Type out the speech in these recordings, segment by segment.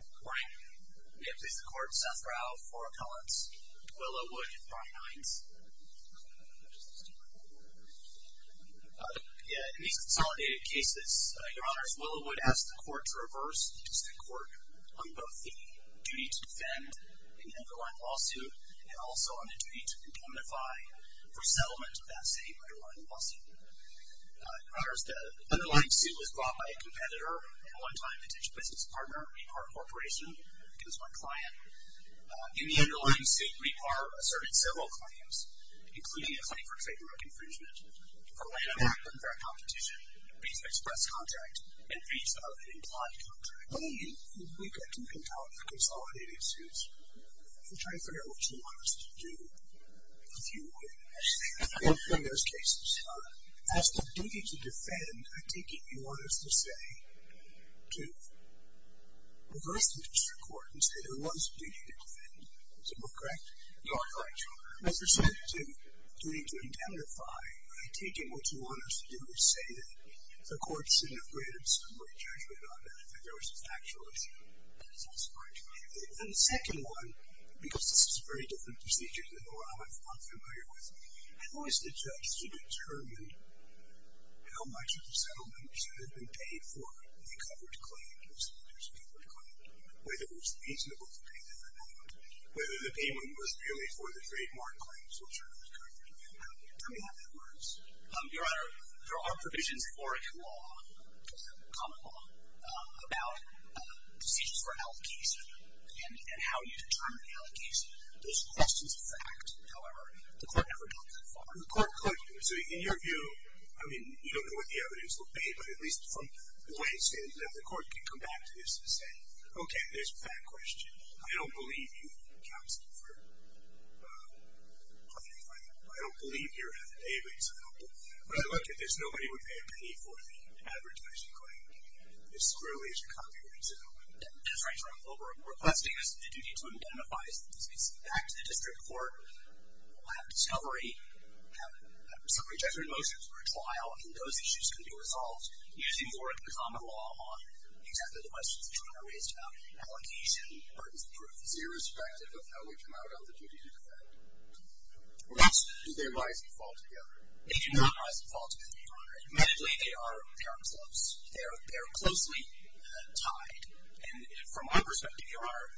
Good morning. May it please the Court, Seth Rau, Fora Collins, Willowood, and Brian Hines. In these consolidated cases, Your Honors, Willowood has the Court to reverse. It's the Court on both the duty to defend an underlying lawsuit, and also on the duty to indemnify for settlement of that same underlying lawsuit. Your Honors, the underlying suit was brought by a competitor, a long-time digital business partner, Repar Corporation. It was one client. In the underlying suit, Repar asserted several claims, including a claim for favor of infringement, for laying off their competition, visa express contract, and visa of implied contract. We've got two consolidated suits. If you're trying to figure out what you want us to do, a few words. In those cases, as the duty to defend, I take it you want us to say, to reverse the district court and say there was a duty to defend. Is that correct? You are correct, Your Honor. As you said, the duty to indemnify, I take it what you want us to do is say that the court should have graded some way judgment on that, that there was a factual issue. That's correct. And the second one, because this is a very different procedure than the one I'm familiar with, how is the judge to determine how much of the settlements that have been paid for the covered claims, whether it was reasonable to pay them or not, whether the payment was really for the trademark claims, which are those covered. Tell me how that works. Your Honor, there are provisions in Oregon law, common law, about decisions for allocation and how you determine the allocation. Those are questions of fact. However, the court never goes that far. The court could. So in your view, I mean, you don't know what the evidence will be, but at least from the way it's stated in the court, you can come back to this and say, okay, there's a fact question. I don't believe you have the capacity for covering a claim. I don't believe you're able to help. When I look at this, nobody would pay a penny for the advertising claim. You're screwed if you're covering it. That's right, Your Honor. What we're requesting is that the duty to identify is back to the district court. We'll have a discovery. We'll have some rejected motions for a trial, and those issues can be resolved using the work of the common law on exactly the questions that you and I raised about allocation, burdens of proof. It's irrespective of how we come out on the duty to defend. Do their rights fall together? They do not rise and fall together, Your Honor. Admittedly, they are close. They are closely tied. And from our perspective, Your Honor,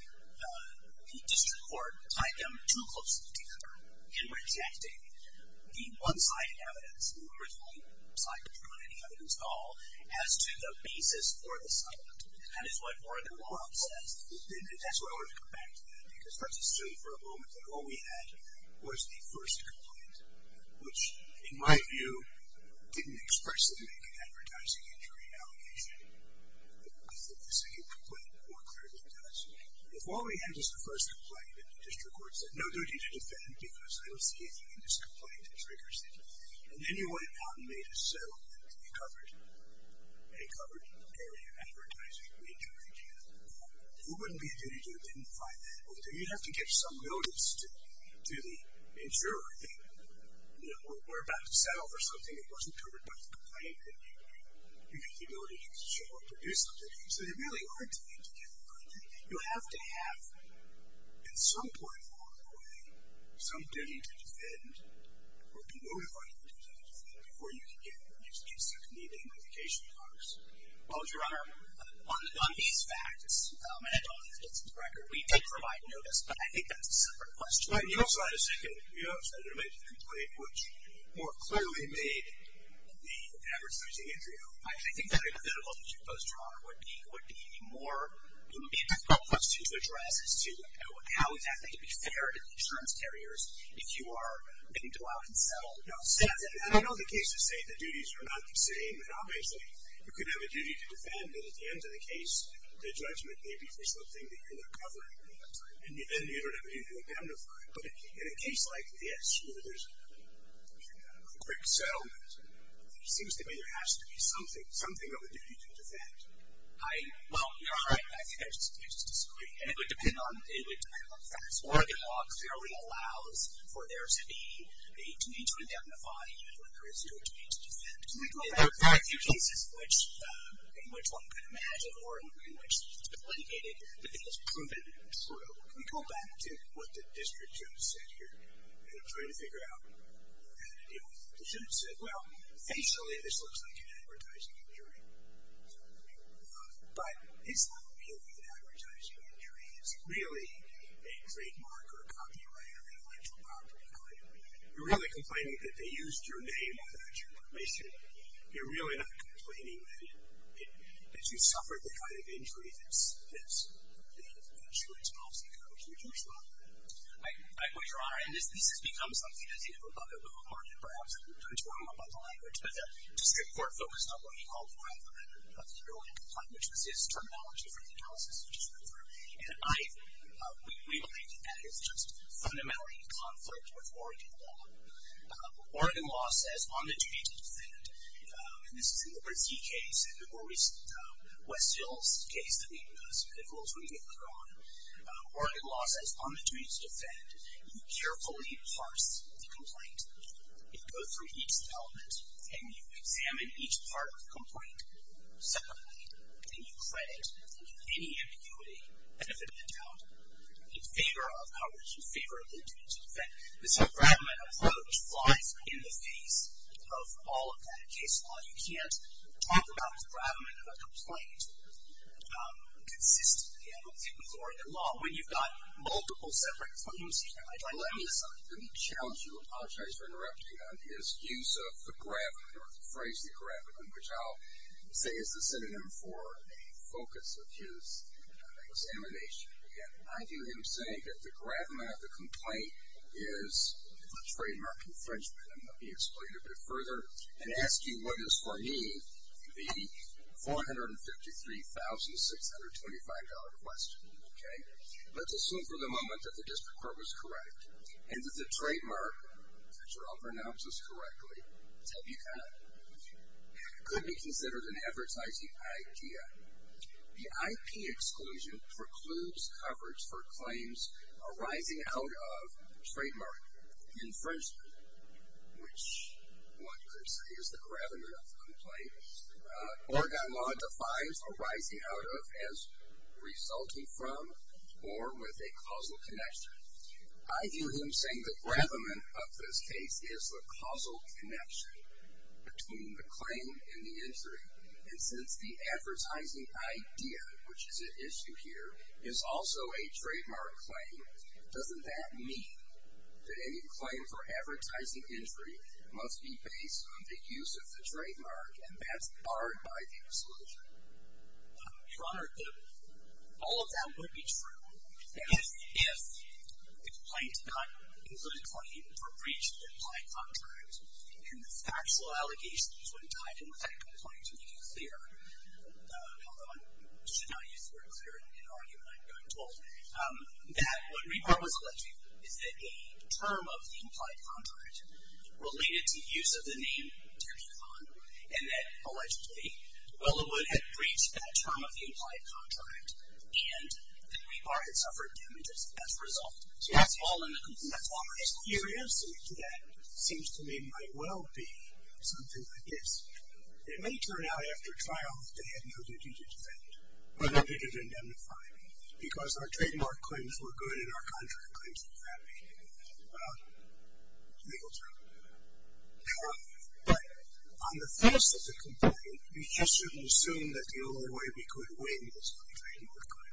the district court tied them too closely together in rejecting the one-sided evidence, the original side of the evidence at all as to the basis for the settlement. That is what Oregon law says. That's why I wanted to come back to that, because that's true for a moment that what we had was the first complaint, which in my view didn't expressly make an advertising injury allocation. I think the second complaint more clearly does. If all we had was the first complaint, and the district court said no duty to defend because I don't see anything in this complaint that triggers it, and then you went out and made a settlement and you covered an area of advertising injury. Who wouldn't be a duty to identify that? You'd have to get some notice to the insurer that we're about to settle for something that wasn't covered by the complaint that you have the ability to show up to do something. So they really are tied together, aren't they? You have to have at some point along the way some duty to defend or be notified of a duty to defend before you can get some immediate notification from Congress. Well, Your Honor, on these facts, and I don't think it's in the record, we did provide notice, but I think that's a separate question. You also had a second complaint, which more clearly made the advertising injury allocation. I think that individual that you posed, Your Honor, would be a more difficult question to address as to how exactly to be fair to insurance carriers if you are going to go out and settle. I know the cases say the duties are not the same, and obviously you could have a duty to defend, but at the end of the case, the judgment may be for something that you're not covering, and you don't have a duty to indemnify. But in a case like this where there's a quick settlement, it seems to me there has to be something, something of a duty to defend. Well, Your Honor, I think there's just too much to disagree. And it would depend on facts. Oregon law clearly allows for there to be a duty to indemnify even when there is no duty to defend. Can we go back to a few cases in which one could imagine or in which it's been litigated that it has proven true? Can we go back to what the district judge said here? And I'm trying to figure out how to deal with it. The judge said, well, basically this looks like an advertising injury. But it's not really an advertising injury. It's really a trademark or a copyright or an intellectual property claim. You're really complaining that they used your name without your permission. You're really not complaining that you suffered the kind of injury that insurance policy covers. Would you respond to that? I would, Your Honor. And this has become something, as you know, about the legal market perhaps, and we'll turn to one more about the language. But the district court focused on what he called rather a theory complaint, which was his terminology for the analysis you just went through. And we believe that that is just fundamentally in conflict with Oregon law. Oregon law says on the duty to defend, and this is in the Brzee case and the more recent West Hills case that we did, as a medical attorney here, Your Honor. Oregon law says on the duty to defend, you carefully parse the complaint. You go through each element, and you examine each part of the complaint separately, and you credit any ambiguity, benefit or doubt, in favor of how would you favor the duty to defend. This engravement approach lies in the face of all of that case law. You can't talk about the engravement of a complaint consistently in Oregon law when you've got multiple separate claims here. Let me assign. Let me challenge you. I apologize for interrupting on his use of the engravement or the phrase engravement, which I'll say is the synonym for a focus of his examination. Again, I view him saying that the gravamen of the complaint is the trademark infringement. Let me explain it a bit further and ask you what is for me the $453,625 question, okay? Let's assume for the moment that the district court was correct and that the trademark, if I pronounce this correctly, could be considered an advertising idea. The IP exclusion precludes coverage for claims arising out of trademark infringement, which one could say is the gravamen of the complaint. Oregon law defies arising out of as resulting from or with a causal connection. I view him saying the gravamen of this case is the causal connection between the claim and the injury. And since the advertising idea, which is at issue here, is also a trademark claim, doesn't that mean that any claim for advertising injury must be based on the use of the trademark and that's barred by the exclusion? Your Honor, all of that would be true if the complaint did not include a claim for breach of the implied contract and the factual allegations when tied in with that complaint, to make it clear, although I should not use the word clear in an argument I've been told, that what Rebar was alleging is that a term of the implied contract related to use of the name Terry Kahn and that allegedly Willowood had breached that term of the implied contract and that Rebar had suffered damages as a result. That's all there is to it. Your answer to that seems to me might well be something like this. It may turn out after trial that they had no duty to defend or no duty to indemnify me because our trademark claims were good and our contract claims were bad. Well, legal term. But on the face of the complaint, we just shouldn't assume that the only way we could win was by trademark claim.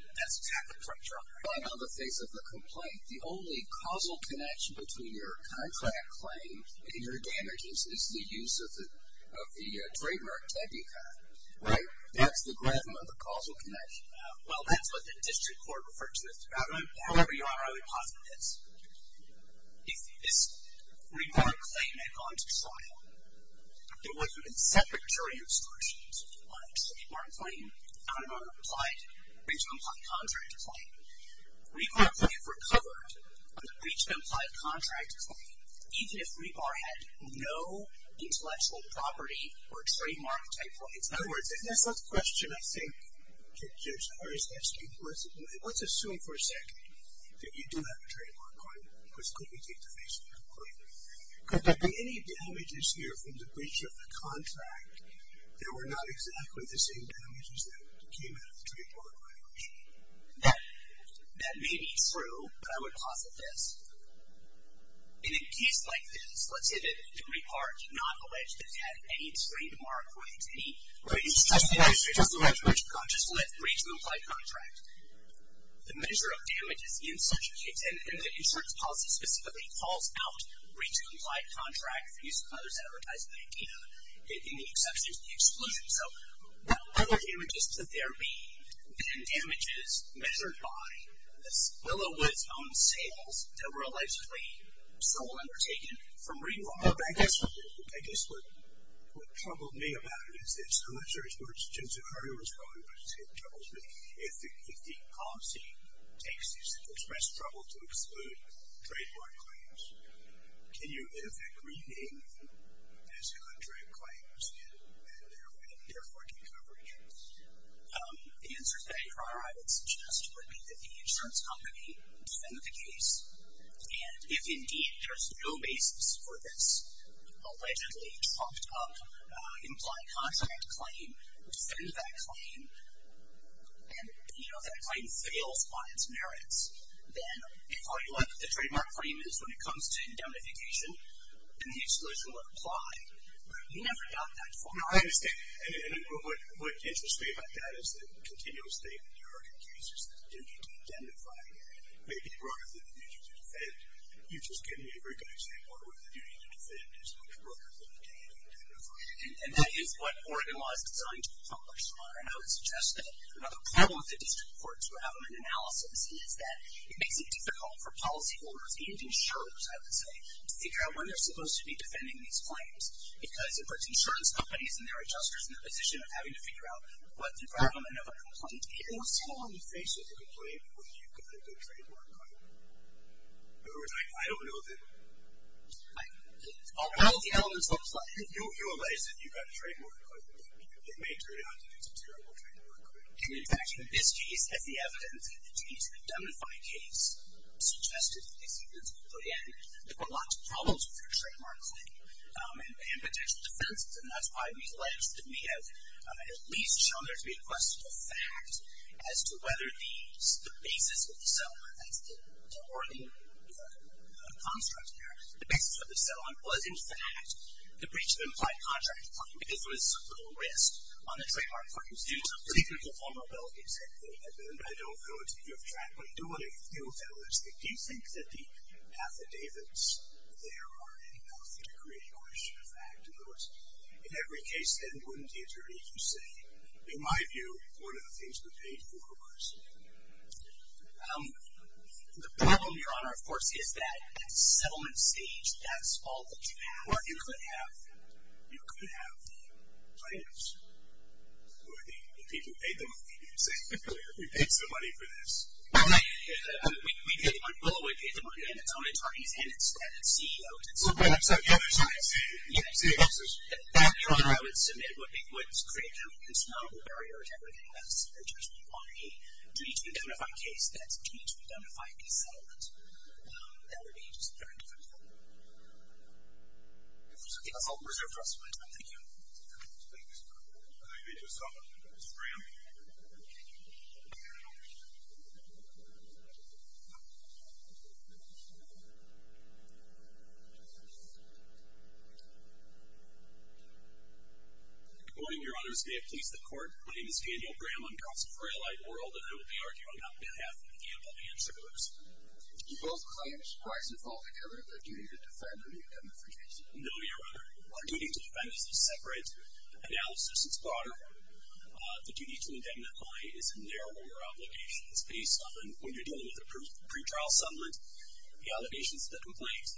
That's exactly correct, Your Honor. But on the face of the complaint, the only causal connection between your contract claim and your damages is the use of the trademark, Terry Kahn. Right? That's the gravum of the causal connection. Well, that's what the district court referred to it. However, Your Honor, I would posit this. If this Rebar claim had gone to trial, there would have been separate jury instructions on a trademark claim, not on a breach of implied contract claim. Rebar would have recovered on the breach of implied contract claim even if Rebar had no intellectual property or trademark type of influence. In other words, that's not the question, I think, that Judge Harris is asking. Let's assume for a second that you do have a trademark claim because could we take the face of the complaint? Could there be any damages here from the breach of the contract that were not exactly the same damages that came out of the trademark claim? That may be true, but I would posit this. In a case like this, let's say that Rebar did not allege that it had any trademark breach, any breach of implied contract. The measure of damages in such a case, and the insurance policy specifically calls out breach of implied contract for use of others advertising in the exception of the exclusion. So what other damages could there be than damages measured by this Willowwood's own sales that were allegedly sole undertaken from Rebar? I guess what troubled me about it is this. I'm not sure where Jim Zuccario was going, but it troubles me. If the policy takes you to express trouble to exclude trademark claims, can you, in effect, rename these contract claims and therefore take over again? The answer to that, your Honor, I would suggest would be that the insurance company defend the case, and if indeed there's no basis for this allegedly trumped-up implied contract claim, defend that claim, and if that claim fails on its merits, then if all you want the trademark claim is when it comes to indemnification, then the exclusion would apply. But I've never got that far. No, I understand. And what interests me about that is the continuous state of New York in cases that the duty to identify may be broader than the duty to defend. You just give me a very nice example where the duty to defend is much broader than the duty to identify. And that is what Oregon law is designed to accomplish, Your Honor. And I would suggest that another problem with the district courts who have them in analysis is that it makes it difficult for policyholders and insurers, I would say, to figure out when they're supposed to be defending these claims. Because it puts insurance companies and their adjusters in the position of having to figure out what the problem and what the complaint is. It was so unfaithful to complain when you've got a good trademark claim. In other words, I don't know that... Well, the evidence looks like... You'll realize that you've got a trademark claim, but it may turn out that it's a terrible trademark claim. And, in fact, in this case, as the evidence, the duty to identify case suggested, the evidence we put in, there were lots of problems with your trademark claim and potential defenses. And that's why we alleged that it may have at least shown there to be a questionable fact as to whether the basis of the settlement, that's the Oregon construct there, the basis of the settlement was, in fact, the breach of implied contract claim because there was a little risk on the trademark claims due to political vulnerabilities. And I don't know what you have tracked, but do what you feel realistic. Do you think that the affidavits there are enough to create a questionable fact? In other words, in every case, then, wouldn't the attorney just say, in my view, one of the things we paid for was... The problem, Your Honor, of course, is that at the settlement stage, that's all that you have. Or you could have the plaintiffs or the people who paid them, you could say, we paid some money for this. Well, we paid the money. Well, we paid the money, and it's on attorneys, and it's at CEOs, and it's... Well, so the other side... Your Honor, I would submit it would create an insurmountable barrier to everything that's a judgment on a duty-to-be-identified case that's a duty-to-be-identified settlement. That would be just very difficult. If there's nothing else, I'll reserve the rest of my time. Thank you. Thank you so much, Mr. Graham. Good morning, Your Honors. May it please the Court. My name is Daniel Graham. I'm constant for a light world, and I will be arguing on behalf of the Campbell and Shivers. Do both claims, price and fault together, have a duty to defend any identification? No, Your Honor. Our duty to defend is a separate analysis. It's broader. The duty to indemnify is a narrower obligation. It's based on, when you're dealing with a pretrial settlement, the allegations of the complaint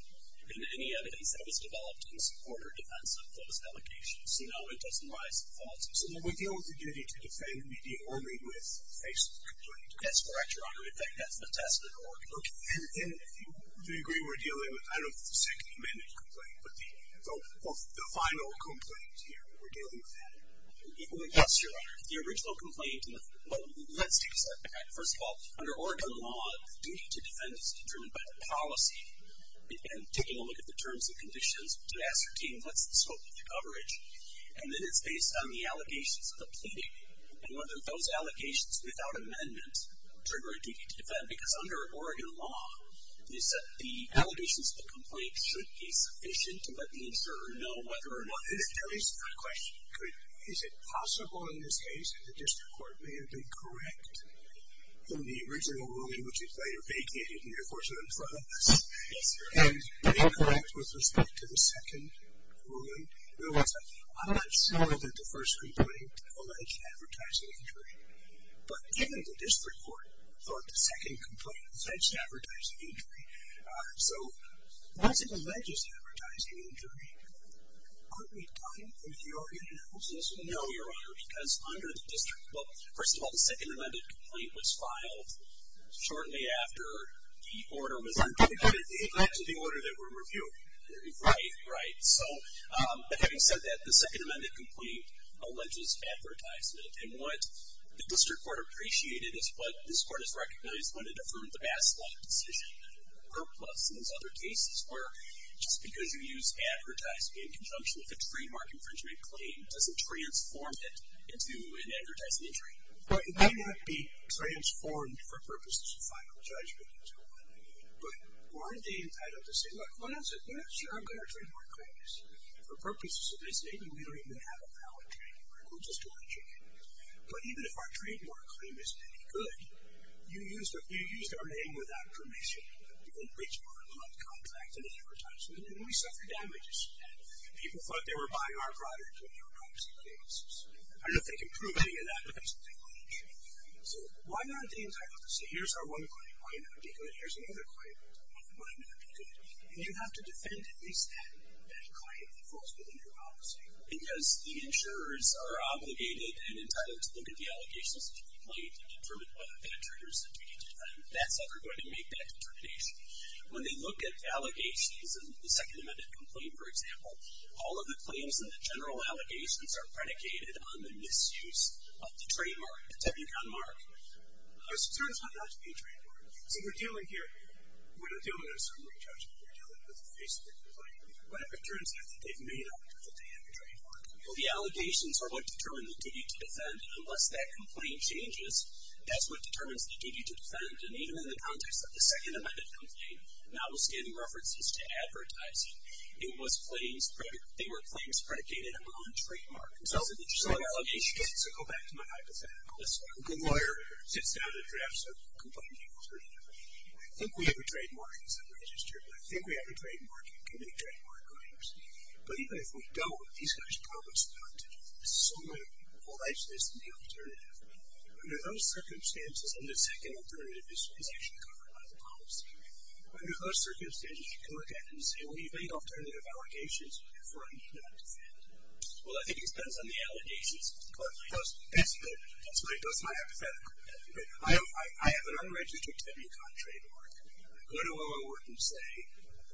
and any evidence that was developed in support or defense of those allegations. So, no, it doesn't rise to fault. So then we deal with the duty to defend and we deal only with the face of the complaint? That's correct, Your Honor. In fact, that's the testament order. Okay. And do you agree we're dealing with... I don't know if it's the second amended complaint, but the final complaint here, we're dealing with that? Yes, Your Honor. The original complaint... Well, let's take a step back. First of all, under Oregon law, the duty to defend is determined by the policy. And taking a look at the terms and conditions to ascertain what's the scope of the coverage. And then it's based on the allegations of the pleading and whether those allegations without amendment trigger a duty to defend. Because under Oregon law, the allegations of the complaint should be sufficient to let the insurer know whether or not... At least my question could be, is it possible in this case that the district court may have been correct in the original ruling, which is later vacated in the enforcement in front of us, and been correct with respect to the second ruling? I'm not sure that the first complaint alleged advertising injury, but even the district court thought the second complaint alleged advertising injury. So once it alleges advertising injury, aren't we talking from the Oregon house's... No, Your Honor, because under the district... Well, first of all, the second amended complaint was filed shortly after the order was... It led to the order that we're reviewing. Right, right. So having said that, the second amended complaint alleges advertisement. And what the district court appreciated is what this court has recognized when it affirmed the Bass Law decision. Purposely, there's other cases where just because you use advertising in conjunction with a trademark infringement claim doesn't transform it into an advertising injury. Right, it may not be transformed for purposes of final judgment. But weren't they tied up to say, look, why don't you say, yeah, sure, I've got our trademark claims. For purposes of this, maybe we don't even have a valid trademark. We'll just allege it. But even if our trademark claim isn't any good, you used our name without permission. You didn't breach our contract in the advertisement, and we suffered damages. People thought they were buying our product when they were proxy claimants. I don't know if they can prove any of that, but that's the thing. So why not the entire... So here's our one claim. Why not? Here's another claim. Why not? And you have to defend at least that claim that falls within your policy. Because the insurers are obligated and entitled to look at the allegations that you've made and determine whether that triggers a duty to defend. That's how they're going to make that determination. When they look at allegations in the Second Amendment complaint, for example, all of the claims in the general allegations are predicated on the misuse of the trademark, the W-Con mark. It turns out not to be a trademark. So we're dealing here... We're not dealing with a summary judgment. We're dealing with a Facebook complaint. But it turns out that they've made up that they have a trademark. Well, the allegations are what determine the duty to defend, and unless that complaint changes, that's what determines the duty to defend. And even in the context of the Second Amendment complaint, notwithstanding references to advertising, it was claims... They were claims predicated on trademark. So... So the allegations... So to go back to my hypothetical, a good lawyer sits down and drafts a complaint and goes, I think we have a trademark, it's not registered, but I think we have a trademark and can make trademark claims. But even if we don't, these guys promised not to do this. So many people like to listen to the alternative. Under those circumstances, under the Second Alternative, this was actually covered by the policy. Under those circumstances, you can look at it and say, well, you've made alternative allegations for a need not to defend. Well, I think it depends on the allegations, but that's basically... That's my hypothetical. I have an unregistered W-Con trademark. I go to a lawyer and say,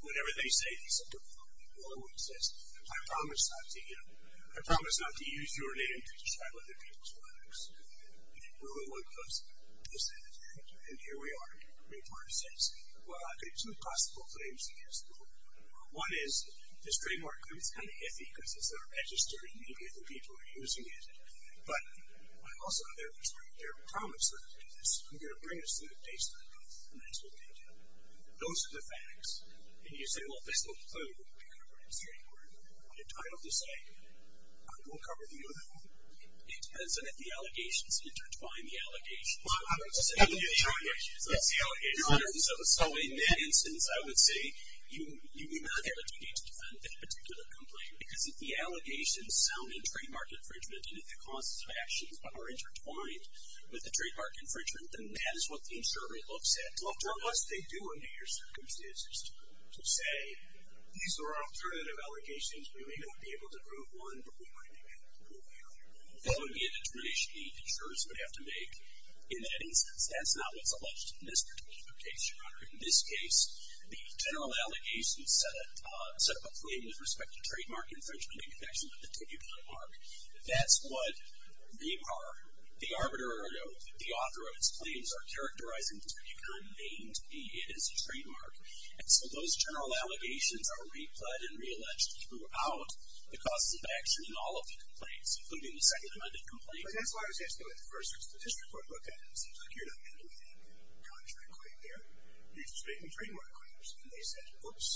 whatever they say, for example, a lawyer would say, I promise not to, you know, I promise not to use your name to describe other people's products. Well, the lawyer goes, listen, and here we are, and the lawyer says, well, I've got two possible claims against the law. One is, this trademark claim is kind of iffy because it's not registered and many other people are using it, but I've also got their promise that if you do this, you're going to bring us to the baseline and that's what they do. Those are the facts. And you say, well, there's no clue. You're covering a straight word. I don't have to say it. I will cover the other one. It depends on if the allegations intertwine the allegations. Well, I'm going to say the allegations. That's the allegations. So in that instance, I would say you may not have a duty to defend that particular complaint because if the allegations sound in trademark infringement and if the causes of action are intertwined with the trademark infringement, then that is what the insurer looks at. Well, unless they do under your circumstances to say, these are alternative allegations. We may not be able to prove one, but we might be able to prove the other. That would be an determination the insurers would have to make in that instance. That's not what's alleged in this particular case, Your Honor. In this case, the general allegations set up a claim with respect to trademark infringement in connection with a particular mark. That's what the arbiter or the author of its claims are characterizing to become named if it is a trademark. And so those general allegations are replugged and re-alleged throughout the causes of action in all of the complaints, including the second amendment complaint. But that's why I was asking what the first report looked at. It seems like you're not making any contract claim there. You're just making trademark claims. And they said, whoops,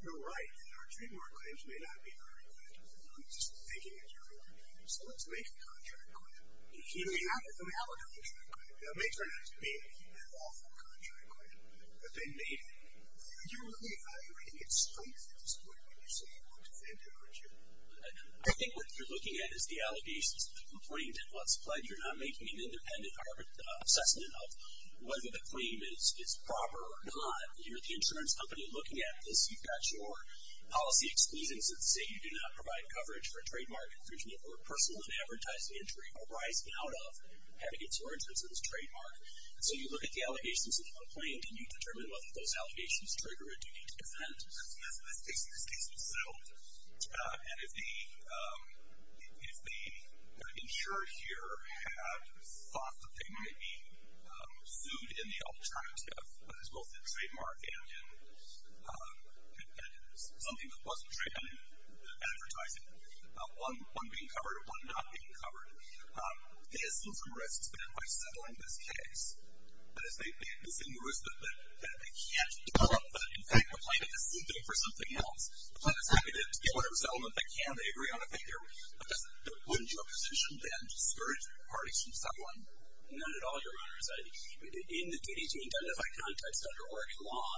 you're right. Our trademark claims may not be very good. I'm just thinking it, Your Honor. So let's make a contract claim. And here we have it. We have a contract claim. Now it may turn out to be an awful contract claim, but they made it. Are you really evaluating its strength at this point when you're saying we'll defend it or injure it? I think what you're looking at is the allegations of the complaint and what's pledged. You're not making an independent assessment of whether the claim is proper or not. You're the insurance company looking at this. You've got your policy exclusions that say you do not provide coverage for a trademark infringement or personal unadvertised entry arising out of having a trademark infringement. So you look at the allegations of the complaint and you determine whether those allegations trigger a duty to defend. This case was sued. And if the insurer here had thought that they might be sued in the alternative as well as the trademark and in something that wasn't trademarked in the advertising, one being covered and one not being covered, they assume some risks there by settling this case. But if they assume the risk that they can't develop, but in fact, the plaintiff is suing for something else, the plaintiff's happy to get whatever settlement they can. They agree on a figure. But doesn't that put them into a position to discourage parties from settling? Not at all, Your Honor. In the duty to identify context under Oregon law,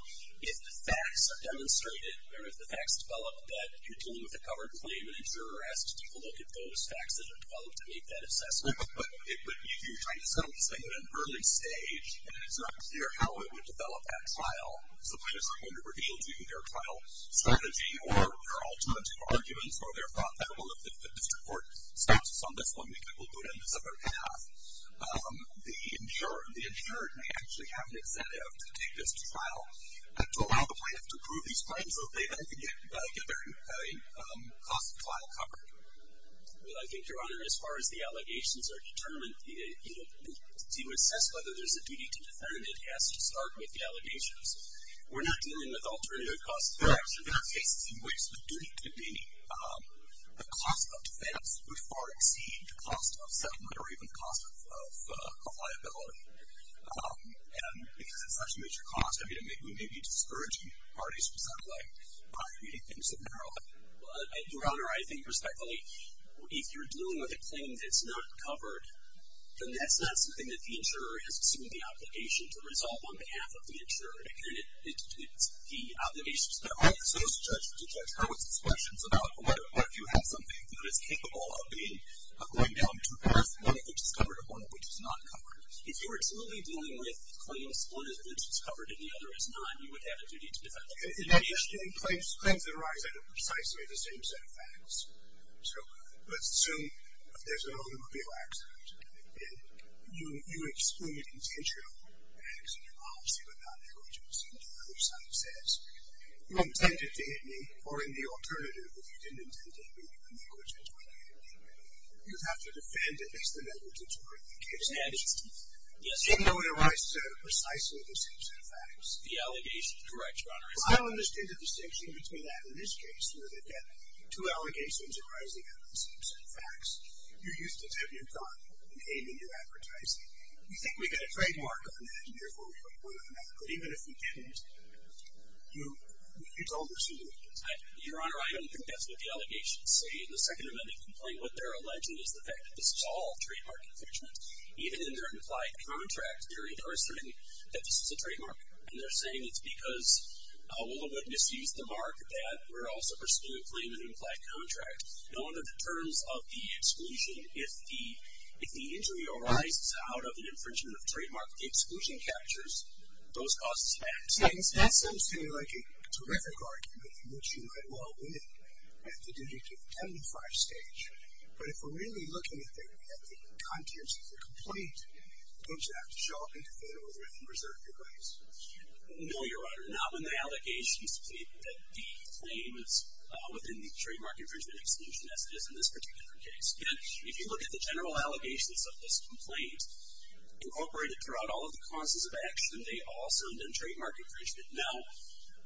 if the facts are demonstrated or if the facts develop that you're dealing with a covered claim and an insurer asks to take a look at those facts that are developed to make that assessment, but if you're trying to settle this thing at an early stage and it's not clear how it would develop that trial, the plaintiffs are going to reveal to you their trial strategy or their alternative arguments or their thought that, well, if the district court stops us on this one, we'll do it in a separate path. The insurer may actually have an incentive to take this trial to allow the plaintiff to prove these claims so that they then can get their cost of trial covered. Well, I think, Your Honor, as far as the allegations are determined, to assess whether there's a duty to defend it has to start with the allegations. We're not dealing with alternative costs of action. We're not facing waste of duty containing. The cost of defense would far exceed the cost of settlement or even the cost of liability. And because it's such a major cost, I mean, we may be discouraging parties from settling by creating things so narrow. Well, Your Honor, I think, respectfully, if you're dealing with a claim that's not covered, then that's not something that the insurer has assumed the obligation to resolve on behalf of the insurer. Again, it's the obligation of the judge to judge her with these questions about what if you have something that is capable of going down to the first point of the discovery of one which is not covered. If you were truly dealing with claims one of which is covered and the other is not, you would have a duty to defend the claim. And claims that arise under precisely the same set of facts. So, let's assume there's an automobile accident and you exclude an intentional accident policy but not negligence and the other side says, you intended to hit me with this precisely the same set of facts. The allegation is correct, Your Honor. I don't understand the distinction between that and this case where they get two allegations arising out of the same set of facts. You used a debut gun and aimed at your advertising. You think this is a trademark infringement? Even if you can't use the debut gun, you told your suit. Your Honor, I don't think that's what the allegations say in the Second Amendment complaint. What they're alleging is the fact that this is all trademark infringement. Even in their implied contract, they're asserting that this is a trademark. And they're saying it's because Willowwood misused the mark that we're also pursuing a claim in an implied contract. No wonder the terms of the exclusion, if the injury arises out of an infringement of a trademark, the exclusion captures those costs. That sounds to me like a terrific argument, which you might well win at the D-75 stage. But if we're really looking at the contents of the complaint, don't you have to show up in the Federal Arrest Office and reserve your rights? No, Your Honor. Not when the allegations state that the claim is within the trademark infringement exclusion, as it is in this particular case. Again, if you look at the general allegations of this complaint, incorporated in case, you can see that throughout all of the causes of action, they all sound in trademark infringement. Now,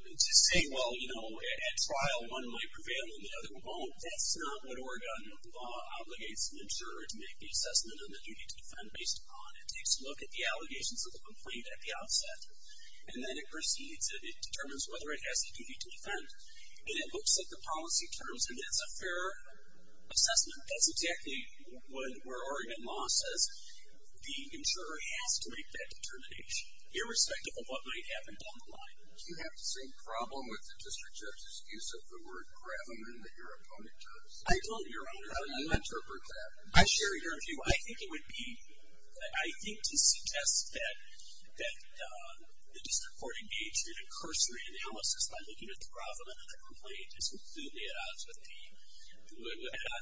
to say, well, at trial, one might prevail and the other won't, that's not what Oregon law obligates an insurer to make the assessment and the duty to defend based upon. It takes a look at the allegations of the complaint at the outset, and then it proceeds and it determines whether it has the duty to defend, and it looks at the policy terms, and that's a fair assessment. That's not obligates an insurer to do. I think it would be, I think to suggest that, that, uh, the District Court would be a true cursory analysis by looking at the bravament of the complaint and concluding it out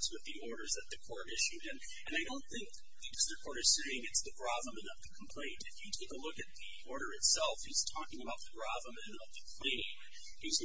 with the orders that the Court issued. And I don't think the District Court is saying it's the bravament of the complaint. If you take a look at the last case, the bravament of the complaint is that this is the bravament the complaint and that it is strictly the bravament of the complaint. That is the bravament of the complaint.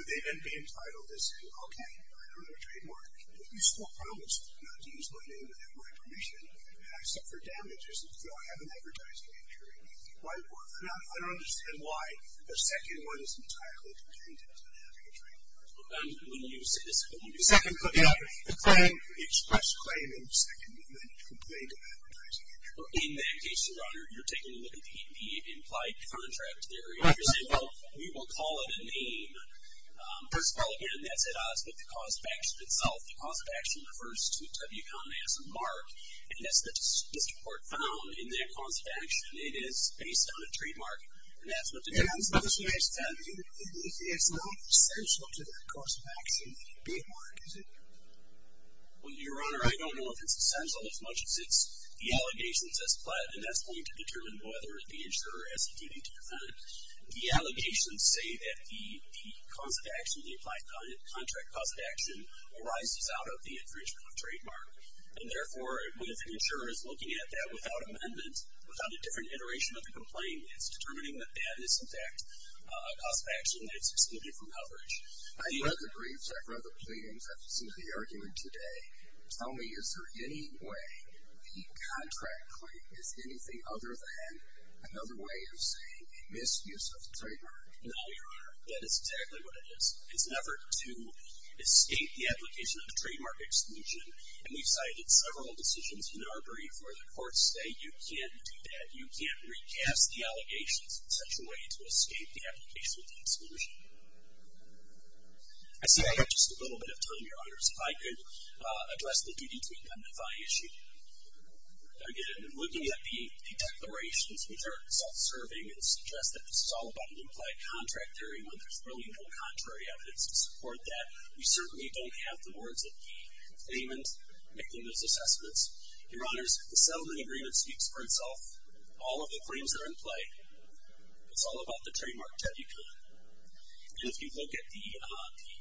They then be entitled as okay, I don't have a trademark. You swore promise not to use my name without my permission except for damages until I have an advertising injury. The cause of action refers to the mark. As the court found in the cause of action, it is based on a trademark. It is not essential to the cause of action trademark is it? Well, Your Honor, I don't know if it's essential as much as it's the allegations as flat, and that's going to determine whether the insurer has a duty to defend it. The allegations say that the contract cause of action arises out of the infringement of trademark, and therefore, if an insurer is looking at that without amendment, without a different iteration of the complaint, it's determining that that is in fact a cause of infringement. And if you look at the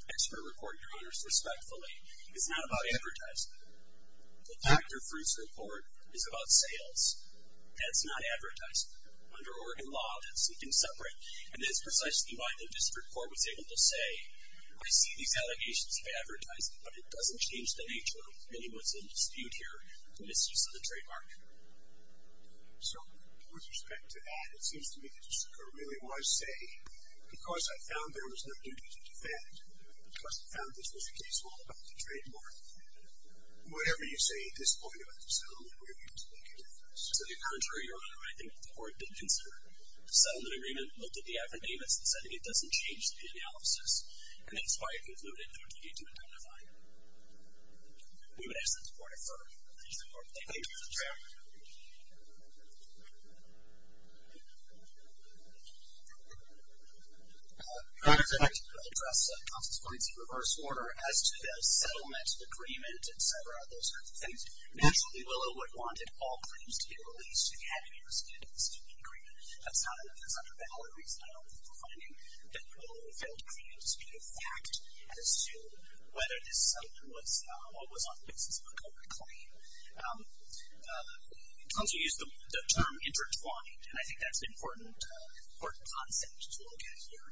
expert report, Your Honor, respectfully, it's not about advertisement. The Dr. Fruits report is about sales. That's not advertisement. Under Oregon law, that's something separate, and that's precisely why the district court was able to say, I see these allegations of advertising, but it doesn't change the nature of the dispute here. And it's just the trademark. So, with respect to that, it seems to me that the district court was able the analysis. And that's why I concluded that we need to identify them. We would ask the court to defer the dispute fact as to whether this settlement was on the basis of a corporate claim. Also use the term intertwined, and I think that's an important concept to look at here.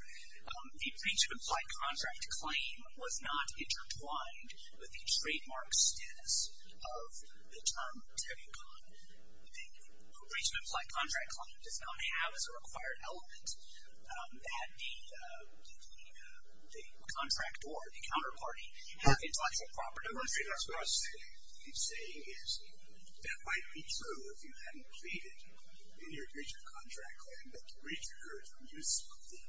The breach of implied contract claim was not intertwined with the contract or the intellectual property. I want to say that what I'm saying is that might be true if you hadn't pleaded in your breach of contract claim, but the breach occurred with the use of the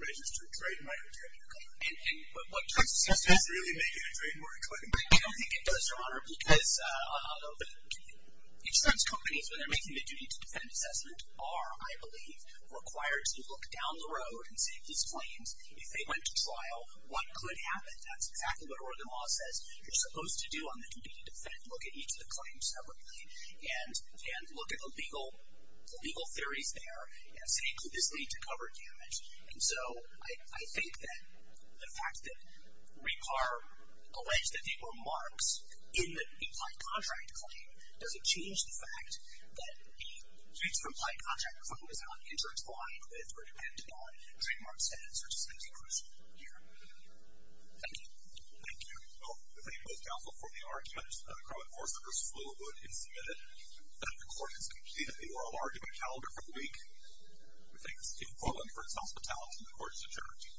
registered trademark claim. I don't think it does, Your Honor, because insurance companies, when they're making the duty to defend assessment, are, I believe, required to look down the road and see if these claims, if they went to trial, what could happen. That's exactly what Oregon law says. You're supposed to do on the duty to defend assessment, but in the implied contract claim, does it change the fact that the breach of implied contract claim is not intertwined with or dependent on trademark status, which is an exclusive here. Thank you. Thank you.